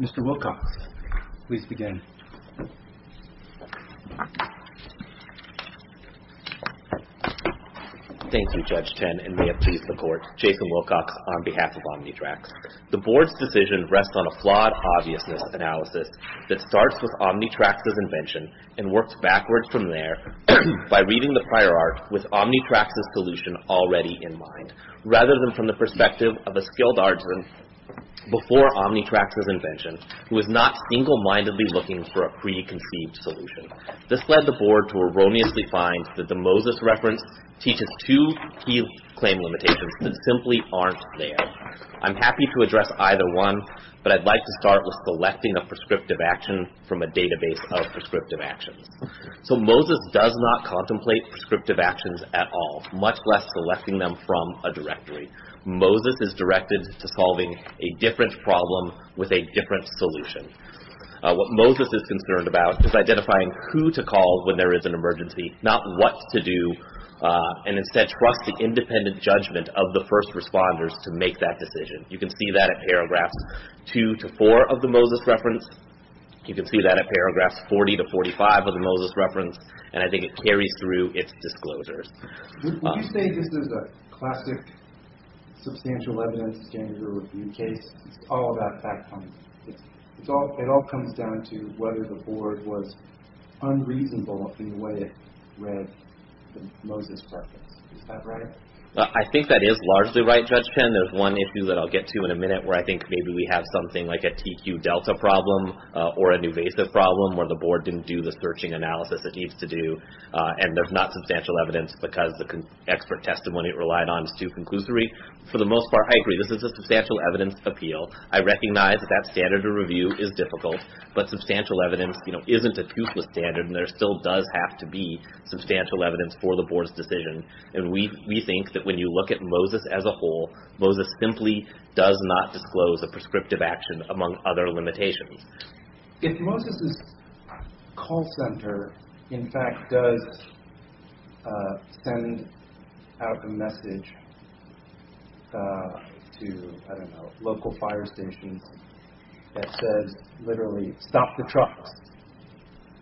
Mr. Wilcox, please begin. Thank you, Judge Tenney. And may it please the Court, Jason Wilcox on behalf of Omnitracs. The Board's decision rests on a flawed obviousness analysis that starts with Omnitracs' invention and works backwards from there by reading the prior art with Omnitracs' solution already in mind, rather than from the perspective of a skilled artisan before Omnitracs' invention who is not single-mindedly looking for a preconceived solution. This led the Board to erroneously find that the Moses reference teaches two key claim limitations that simply aren't there. I'm happy to address either one, but I'd like to start with selecting a prescriptive action from a database of prescriptive actions. So Moses does not contemplate prescriptive actions at all, much less selecting them from a directory. Moses is directed to solving a different problem with a different solution. What Moses is concerned about is identifying who to call when there is an emergency, not what to do, and instead trust the independent judgment of the first responders to make that decision. You can see that in paragraphs 2 to 4 of the Moses reference. You can see that in paragraphs 40 to 45 of the Moses reference. And I think it carries through its disclosures. Would you say this is a classic substantial evidence standard review case? It's all about fact-finding. It all comes down to whether the Board was unreasonable in the way it read the Moses reference. Is that right? I think that is largely right, Judge Penn. There's one issue that I'll get to in a minute where I think maybe we have something like a TQ delta problem or a newvasive problem where the Board didn't do the searching analysis it needs to do and there's not substantial evidence because the expert testimony it relied on is too conclusory. For the most part, I agree. This is a substantial evidence appeal. I recognize that that standard of review is difficult, but substantial evidence isn't a toothless standard and there still does have to be substantial evidence for the Board's decision. And we think that when you look at Moses as a whole, Moses simply does not disclose a prescriptive action among other limitations. If Moses' call center, in fact, does send out a message to, I don't know, local fire stations that says literally, stop the trucks,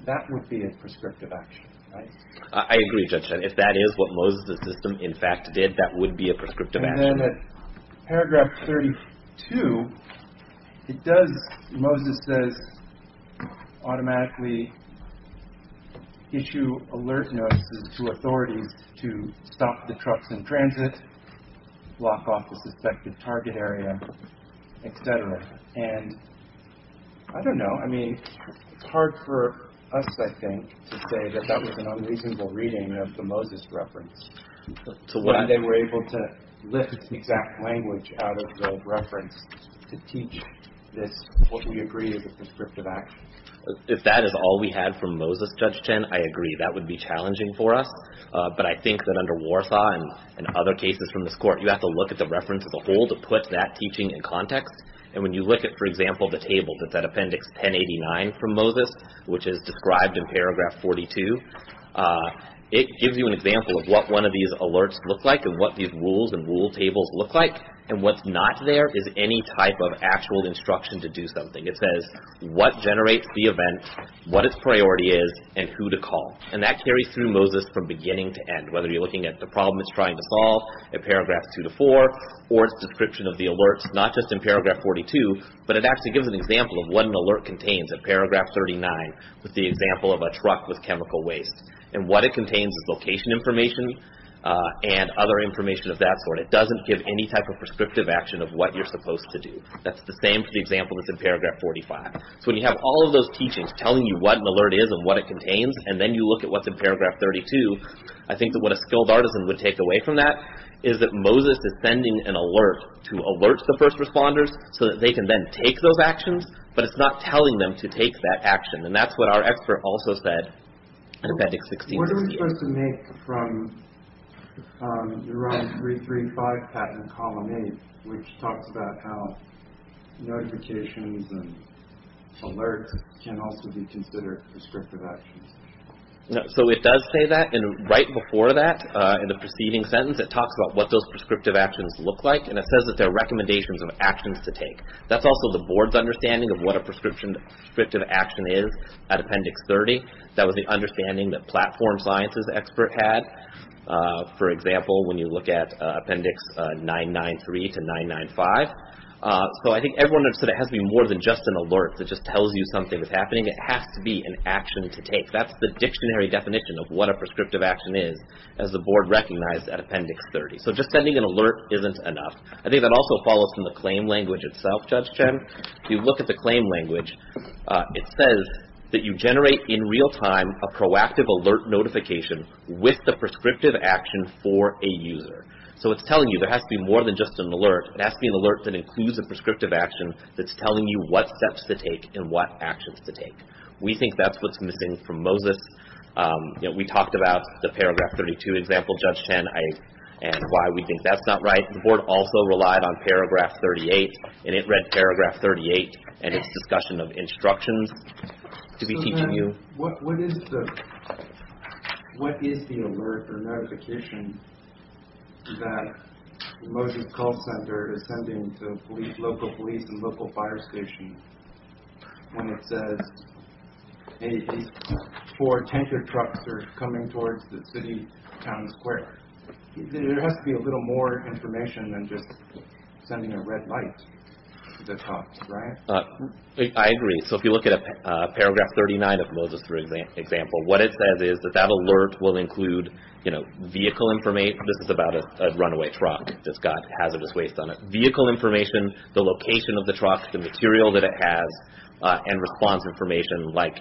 that would be a prescriptive action, right? I agree, Judge Penn. If that is what Moses' system, in fact, did, that would be a prescriptive action. And then at paragraph 32, it does, Moses says, automatically issue alert notices to authorities to stop the trucks in transit, block off the suspected target area, et cetera. And I don't know, I mean, it's hard for us, I think, to say that that was an unreasonable reading of the Moses reference when they were able to lift its exact language out of the reference to teach this, what we agree is a prescriptive action. If that is all we had from Moses, Judge Chen, I agree. That would be challenging for us. But I think that under Warsaw and other cases from this Court, you have to look at the reference as a whole to put that teaching in context. And when you look at, for example, the table that's at appendix 1089 from Moses, which is described in paragraph 42, it gives you an example of what one of these alerts look like and what these rules and rule tables look like. And what's not there is any type of actual instruction to do something. It says what generates the event, what its priority is, and who to call. And that carries through Moses from beginning to end, whether you're looking at the problem it's trying to solve in paragraph 2-4 or its description of the alerts, not just in paragraph 42, but it actually gives an example of what an alert contains in paragraph 39 with the example of a truck with chemical waste. And what it contains is location information and other information of that sort. It doesn't give any type of prescriptive action of what you're supposed to do. That's the same for the example that's in paragraph 45. So when you have all of those teachings telling you what an alert is and what it contains, and then you look at what's in paragraph 32, I think that what a skilled artisan would take away from that is that Moses is sending an alert to alert the first responders so that they can then take those actions, but it's not telling them to take that action. And that's what our expert also said in Appendix 16-16. What are we supposed to make from the ROM 335 patent column 8, which talks about how notifications and alerts can also be considered prescriptive actions? So it does say that, and right before that, in the preceding sentence, it talks about what those prescriptive actions look like, and it says that they're recommendations of actions to take. That's also the board's understanding of what a prescriptive action is at Appendix 30. That was the understanding that Platform Science's expert had. For example, when you look at Appendix 993-995. So I think everyone understood it has to be more than just an alert that just tells you something is happening. It has to be an action to take. That's the dictionary definition of what a prescriptive action is, as the board recognized at Appendix 30. So just sending an alert isn't enough. I think that also follows from the claim language itself, Judge Chen. If you look at the claim language, it says that you generate in real time a proactive alert notification with the prescriptive action for a user. So it's telling you there has to be more than just an alert. It has to be an alert that includes a prescriptive action that's telling you what steps to take and what actions to take. We think that's what's missing from MOSIS. We talked about the Paragraph 32 example, Judge Chen, and why we think that's not right. The board also relied on Paragraph 38, and it read Paragraph 38 and its discussion of instructions to be teaching you. What is the alert or notification that the MOSIS call center is sending to local police and local fire stations when it says four tanker trucks are coming towards the city, town, and square? There has to be a little more information than just sending a red light to the trucks, right? I agree. So if you look at Paragraph 39 of the MOSIS example, what it says is that that alert will include vehicle information. This is about a runaway truck that's got hazardous waste on it. Vehicle information, the location of the truck, the material that it has, and response information like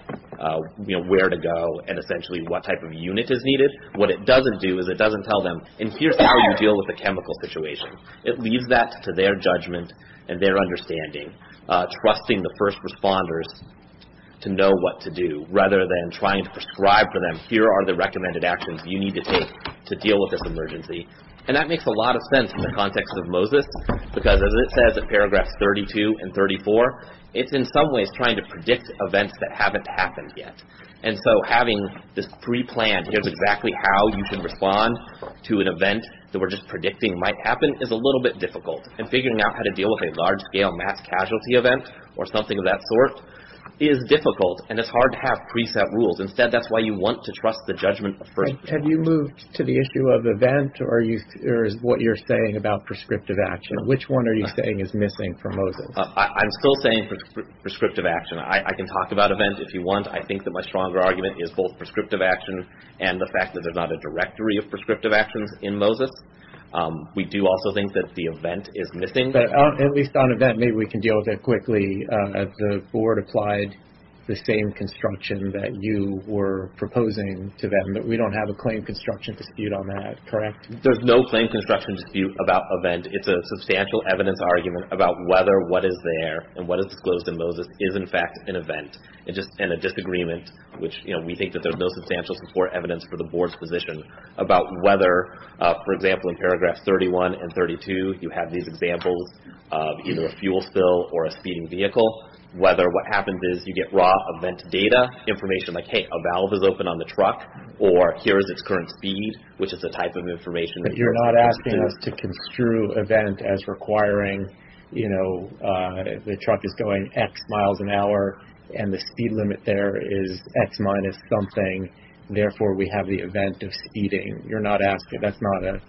where to go and essentially what type of unit is needed. What it doesn't do is it doesn't tell them, and here's how you deal with the chemical situation. It leaves that to their judgment and their understanding, trusting the first responders to know what to do rather than trying to prescribe for them, here are the recommended actions you need to take to deal with this emergency. And that makes a lot of sense in the context of MOSIS because as it says in Paragraphs 32 and 34, it's in some ways trying to predict events that haven't happened yet. And so having this pre-planned, here's exactly how you can respond to an event that we're just predicting might happen is a little bit difficult. And figuring out how to deal with a large-scale mass casualty event or something of that sort is difficult, and it's hard to have preset rules. Instead, that's why you want to trust the judgment of first responders. Have you moved to the issue of event or is what you're saying about prescriptive action? Which one are you saying is missing from MOSIS? I'm still saying prescriptive action. I can talk about event if you want. I think that my stronger argument is both prescriptive action and the fact that there's not a directory of prescriptive actions in MOSIS. We do also think that the event is missing. But at least on event, maybe we can deal with it quickly. The Board applied the same construction that you were proposing to them, but we don't have a claim construction dispute on that, correct? There's no claim construction dispute about event. It's a substantial evidence argument about whether what is there and what is disclosed in MOSIS is, in fact, an event. And a disagreement, which we think that there's no substantial support evidence for the Board's position about whether, for example, in paragraphs 31 and 32, you have these examples of either a fuel spill or a speeding vehicle, whether what happens is you get raw event data, information like, hey, a valve is open on the truck, or here is its current speed, which is the type of information that you're asking. But you're not asking us to construe event as requiring, you know, the truck is going X miles an hour, and the speed limit there is X minus something. Therefore, we have the event of speeding. You're not asking. That's not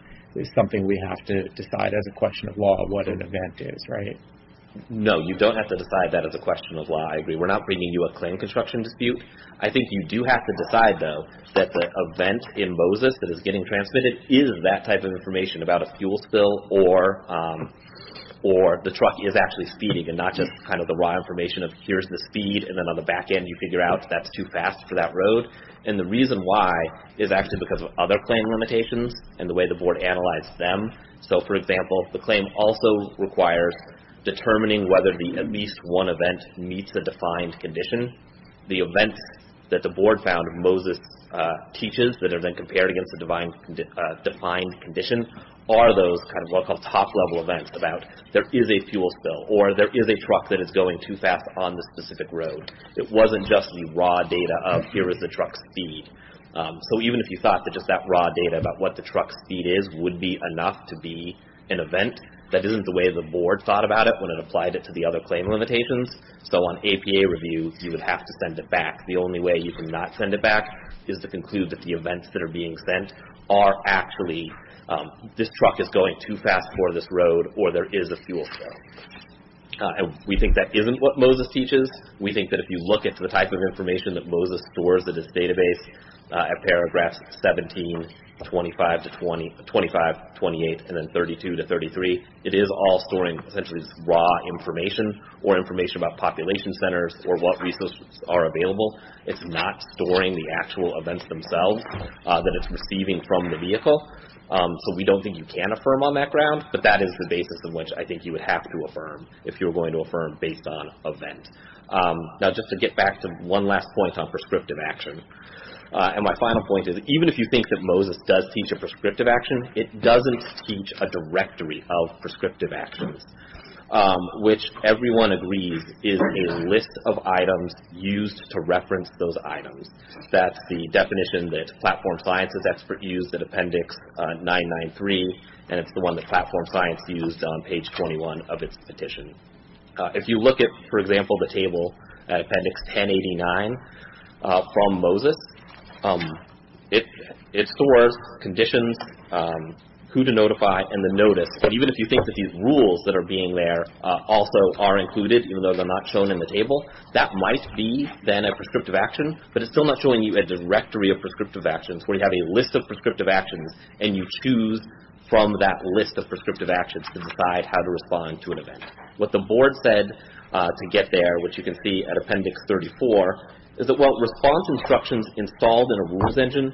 something we have to decide as a question of law what an event is, right? No, you don't have to decide that as a question of law. I agree. We're not bringing you a claim construction dispute. I think you do have to decide, though, that the event in MOSIS that is getting transmitted is that type of information about a fuel spill or the truck is actually speeding and not just kind of the raw information of here's the speed, and then on the back end you figure out that's too fast for that road. And the reason why is actually because of other claim limitations and the way the Board analyzed them. So, for example, the claim also requires determining whether at least one event meets a defined condition. The events that the Board found MOSIS teaches that are then compared against a defined condition are those kind of what are called top-level events about there is a fuel spill or there is a truck that is going too fast on this specific road. It wasn't just the raw data of here is the truck's speed. So, even if you thought that just that raw data about what the truck's speed is would be enough to be an event, that isn't the way the Board thought about it when it applied it to the other claim limitations. So, on APA review, you would have to send it back. The only way you can not send it back is to conclude that the events that are being sent are actually this truck is going too fast for this road or there is a fuel spill. We think that isn't what MOSIS teaches. We think that if you look at the type of information that MOSIS stores in its database at paragraphs 17, 25, 28, and then 32 to 33, it is all storing essentially raw information or information about population centers or what resources are available. It's not storing the actual events themselves that it's receiving from the vehicle. So, we don't think you can affirm on that ground, but that is the basis on which I think you would have to affirm if you were going to affirm based on event. Now, just to get back to one last point on prescriptive action, and my final point is even if you think that MOSIS does teach a prescriptive action, it doesn't teach a directory of prescriptive actions, which everyone agrees is a list of items used to reference those items. That's the definition that Platform Science's expert used at Appendix 993, and it's the one that Platform Science used on page 21 of its petition. If you look at, for example, the table at Appendix 1089 from MOSIS, it stores conditions, who to notify, and the notice. But even if you think that these rules that are being there also are included, even though they're not shown in the table, that might be then a prescriptive action, but it's still not showing you a directory of prescriptive actions where you have a list of prescriptive actions, and you choose from that list of prescriptive actions to decide how to respond to an event. What the board said to get there, which you can see at Appendix 34, is that, well, response instructions installed in a rules engine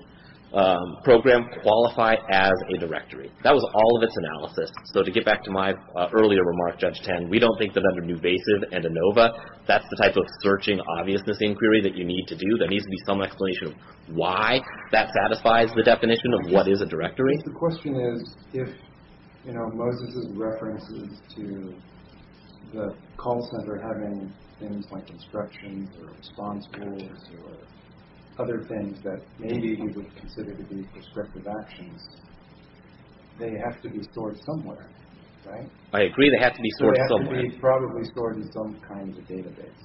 program qualify as a directory. That was all of its analysis. So to get back to my earlier remark, Judge Tan, we don't think that under newvasive and ANOVA, that's the type of searching obviousness inquiry that you need to do. There needs to be some explanation of why that satisfies the definition of what is a directory. The question is if, you know, MOSIS' references to the call center having things like instructions or response rules or other things that maybe you would consider to be prescriptive actions, they have to be stored somewhere, right? I agree they have to be stored somewhere. They have to be probably stored in some kind of a database.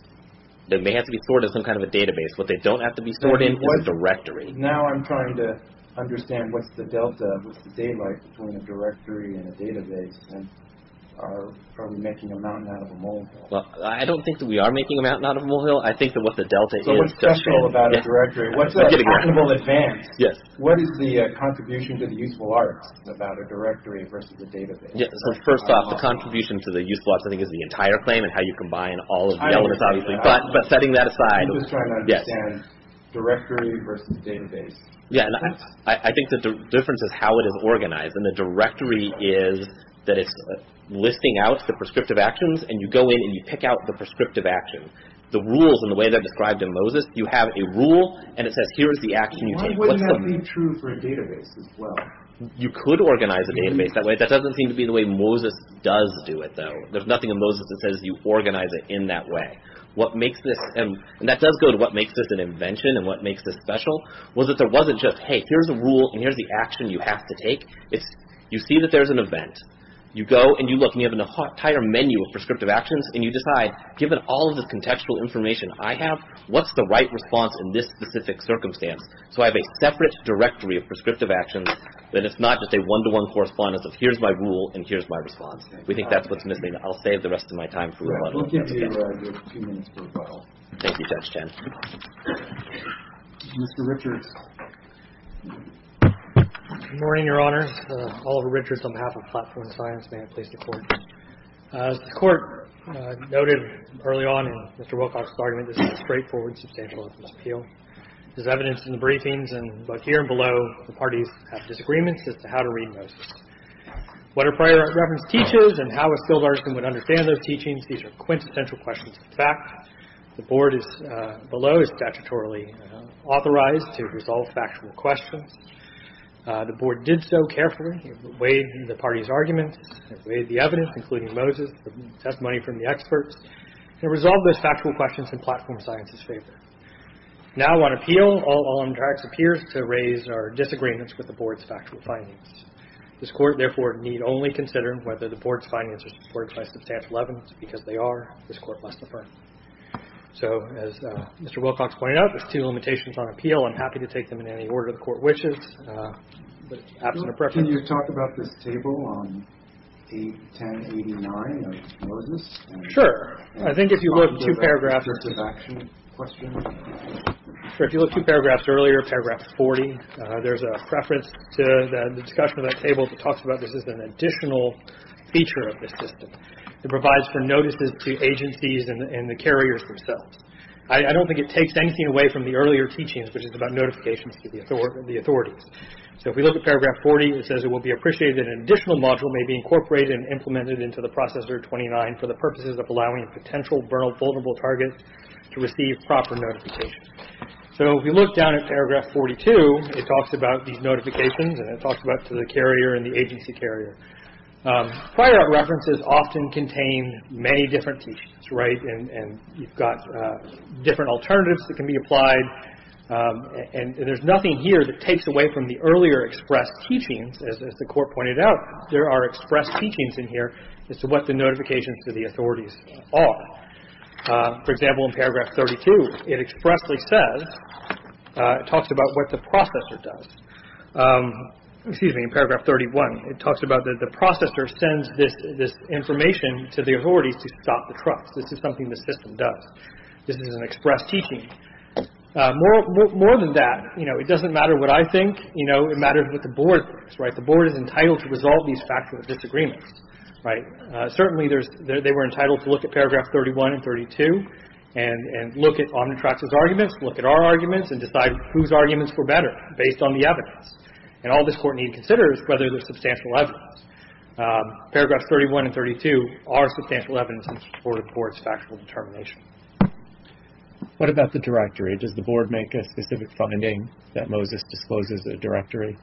They have to be stored in some kind of a database. What they don't have to be stored in is a directory. Now I'm trying to understand what's the delta, what's the daylight between a directory and a database and are we making a mountain out of a molehill? Well, I don't think that we are making a mountain out of a molehill. I think that what the delta is. So what's special about a directory? What's the actionable advance? Yes. What is the contribution to the useful arts about a directory versus a database? So first off, the contribution to the useful arts I think is the entire claim and how you combine all of the elements obviously, but setting that aside. I'm just trying to understand directory versus database. Yeah, and I think the difference is how it is organized and the directory is that it's listing out the prescriptive actions and you go in and you pick out the prescriptive action. The rules and the way they're described in Moses, you have a rule and it says here is the action you take. Why wouldn't that be true for a database as well? You could organize a database that way. That doesn't seem to be the way Moses does do it though. There's nothing in Moses that says you organize it in that way. What makes this, and that does go to what makes this an invention and what makes this special, was that there wasn't just, hey, here's a rule and here's the action you have to take. You see that there's an event. You go and you look and you have an entire menu of prescriptive actions and you decide given all of the contextual information I have, what's the right response in this specific circumstance? So I have a separate directory of prescriptive actions that it's not just a one-to-one correspondence of here's my rule and here's my response. We think that's what's missing. I'll save the rest of my time for you. Thank you, Judge Chen. Mr. Richards. Good morning, Your Honor. Oliver Richards on behalf of Platform Science. May I please report? As the Court noted early on in Mr. Wilcox's argument, this is a straightforward, substantial evidence appeal. There's evidence in the briefings and both here and below, the parties have disagreements as to how to read Moses. What are prior reference teaches and how a skilled artist would understand those teachings? These are quintessential questions of fact. The Board below is statutorily authorized to resolve factual questions. The Board did so carefully. It weighed the parties' arguments. It weighed the evidence, including Moses, the testimony from the experts. It resolved those factual questions in Platform Science's favor. Now on appeal, all on the tracks appears to raise our disagreements with the Board's factual findings. This Court, therefore, need only consider whether the Board's findings are supported by substantial evidence. Because they are, this Court must affirm. So as Mr. Wilcox pointed out, there's two limitations on appeal. I'm happy to take them in any order the Court wishes. But absent a preference. Can you talk about this table on 1089 of Moses? Sure. I think if you look two paragraphs earlier, paragraph 40, there's a preference to the discussion of that table that talks about this as an additional feature of the system. It provides for notices to agencies and the carriers themselves. I don't think it takes anything away from the earlier teachings, which is about notifications to the authorities. So if we look at paragraph 40, it says, it will be appreciated that an additional module may be incorporated and implemented into the Processor 29 for the purposes of allowing potential vulnerable targets to receive proper notifications. So if you look down at paragraph 42, it talks about these notifications, and it talks about to the carrier and the agency carrier. Prior art references often contain many different teachings, right? And you've got different alternatives that can be applied. And there's nothing here that takes away from the earlier expressed teachings. As the Court pointed out, there are expressed teachings in here as to what the notifications to the authorities are. For example, in paragraph 32, it expressly says, it talks about what the Processor does. Excuse me, in paragraph 31, it talks about that the Processor sends this information to the authorities to stop the trucks. This is something the system does. This is an expressed teaching. More than that, you know, it doesn't matter what I think. You know, it matters what the Board thinks, right? The Board is entitled to resolve these factors of disagreement, right? Certainly, they were entitled to look at paragraph 31 and 32 and look at Omnitrax's arguments, look at our arguments, and decide whose arguments were better based on the evidence. And all this Court needs to consider is whether there's substantial evidence. Paragraphs 31 and 32 are substantial evidence in support of the Board's factual determination. What about the directory? Does the Board make a specific finding that Moses discloses a directory?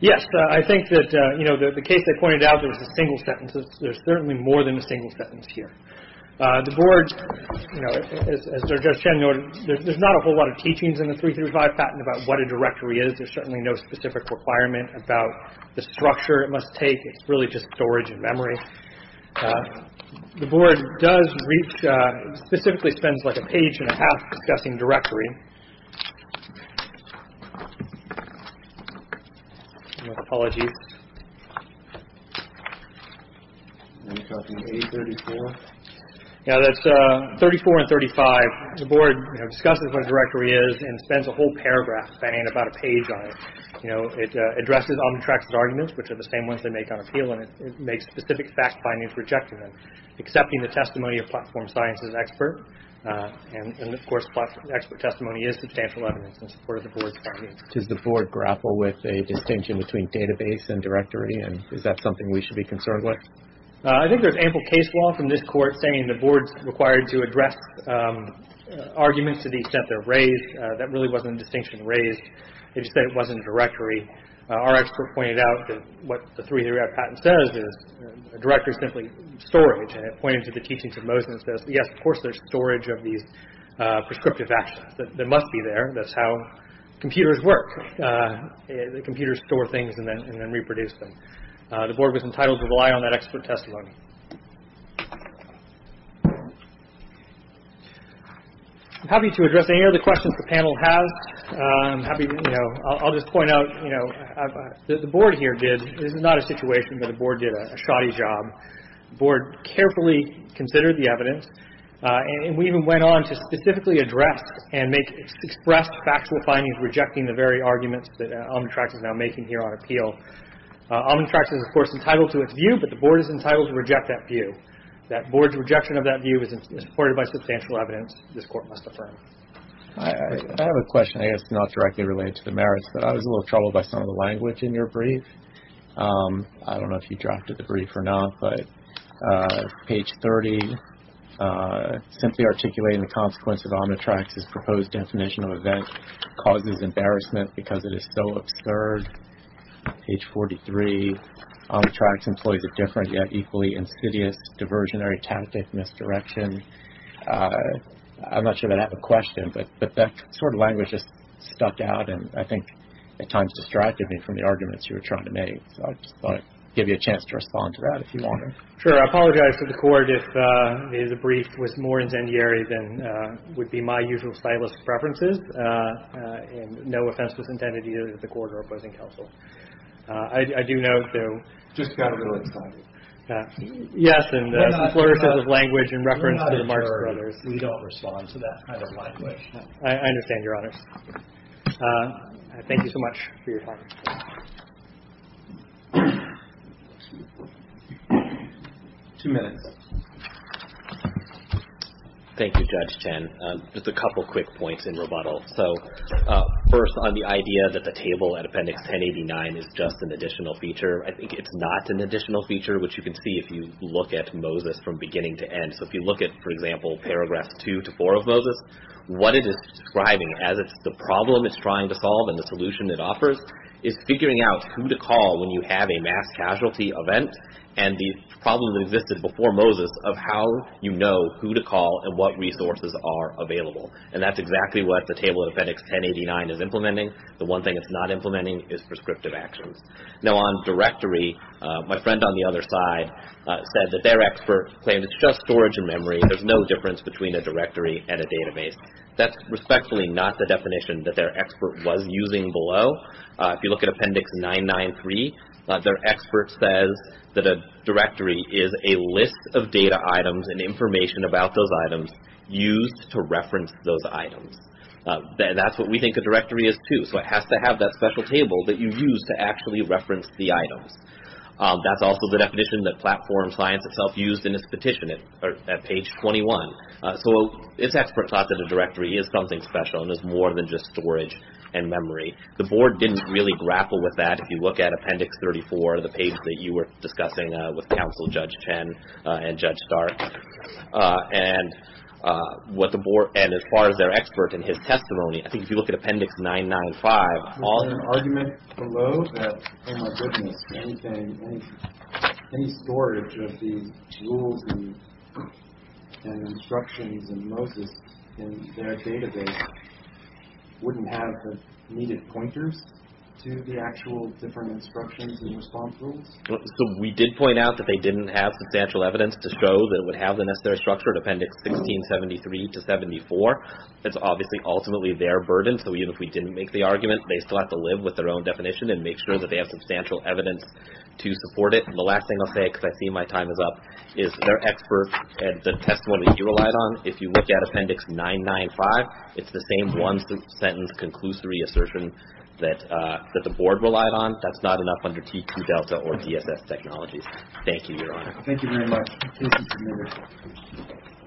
Yes. I think that, you know, the case they pointed out, there was a single sentence. There's certainly more than a single sentence here. The Board, you know, as Judge Chen noted, there's not a whole lot of teachings in the 335 patent about what a directory is. There's certainly no specific requirement about the structure it must take. It's really just storage and memory. The Board does reach, specifically spends like a page and a half discussing directory. Apologies. Now that's 34 and 35. The Board, you know, discusses what a directory is and spends a whole paragraph, if that ain't about a page on it. You know, it addresses, on the tracks of arguments, which are the same ones they make on appeal. And it makes specific fact findings rejecting them. Accepting the testimony of platform science is an expert. And of course, expert testimony is substantial evidence in support of the Board's findings. Does the Board grapple with a distinction between database and directory? And is that something we should be concerned with? I think there's ample case law from this Court saying the Board's required to address arguments to the extent they're raised. That really wasn't a distinction raised. They just said it wasn't a directory. Our expert pointed out that what the three-year patent says is a directory is simply storage. And it pointed to the teachings of Moses and says, yes, of course there's storage of these prescriptive actions. They must be there. That's how computers work. Computers store things and then reproduce them. The Board was entitled to rely on that expert testimony. I'm happy to address any other questions the panel has. I'll just point out that the Board here did, this is not a situation, but the Board did a shoddy job. The Board carefully considered the evidence. And we even went on to specifically address and express factual findings rejecting the very arguments that Omnitrax is now making here on appeal. Omnitrax is, of course, entitled to its view, but the Board is entitled to reject that view. That Board's rejection of that view is supported by substantial evidence this Court must affirm. I have a question, I guess, not directly related to the merits, but I was a little troubled by some of the language in your brief. I don't know if you drafted the brief or not, but page 30, simply articulating the consequences of Omnitrax's proposed definition of event causes embarrassment because it is so absurd. Page 43, Omnitrax employs a different yet equally insidious diversionary tactic, misdirection. I'm not sure that I have a question, but that sort of language just stuck out and I think at times distracted me from the arguments you were trying to make. So I just thought I'd give you a chance to respond to that if you wanted. Sure. I apologize to the Court if the brief was more incendiary than would be my usual stylistic preferences. And no offense was intended either to the Court or opposing counsel. I do know, though. Just got a little excited. Yes, and some flourishes of language in reference to the Marx Brothers. We don't respond to that kind of language. I understand your onus. Thank you so much for your time. Two minutes. Thank you, Judge Chen. Just a couple quick points in rebuttal. So first on the idea that the table at Appendix 1089 is just an additional feature. I think it's not an additional feature, which you can see if you look at Moses from beginning to end. So if you look at, for example, Paragraphs 2 to 4 of Moses, what it is describing as it's the problem it's trying to solve and the solution it offers is figuring out who to call when you have a mass casualty event and the problem that existed before Moses of how you know who to call and what resources are available. And that's exactly what the table at Appendix 1089 is implementing. The one thing it's not implementing is prescriptive actions. Now on directory, my friend on the other side said that their expert claimed it's just storage and memory. There's no difference between a directory and a database. That's respectfully not the definition that their expert was using below. If you look at Appendix 993, their expert says that a directory is a list of data items and information about those items used to reference those items. That's what we think a directory is too. So it has to have that special table that you use to actually reference the items. That's also the definition that Platform Science itself used in its petition at page 21. So its expert thought that a directory is something special and is more than just storage and memory. The board didn't really grapple with that. If you look at Appendix 34, the page that you were discussing with counsel Judge Chen and Judge Stark and what the board and as far as their expert and his testimony, I think if you look at Appendix 995. There's an argument below that, oh my goodness, any storage of these rules and instructions and Moses in their database wouldn't have the needed pointers to the actual different instructions and response rules. So we did point out that they didn't have substantial evidence to show that it would have the necessary structure in Appendix 1673 to 74. That's obviously ultimately their burden. So even if we didn't make the argument, they still have to live with their own definition and make sure that they have substantial evidence to support it. And the last thing I'll say, because I see my time is up, is their expert and the testimony he relied on, if you look at Appendix 995, it's the same one-sentence conclusory assertion that the board relied on. That's not enough under TQ-Delta or DSS technologies. Thank you very much. Thank you.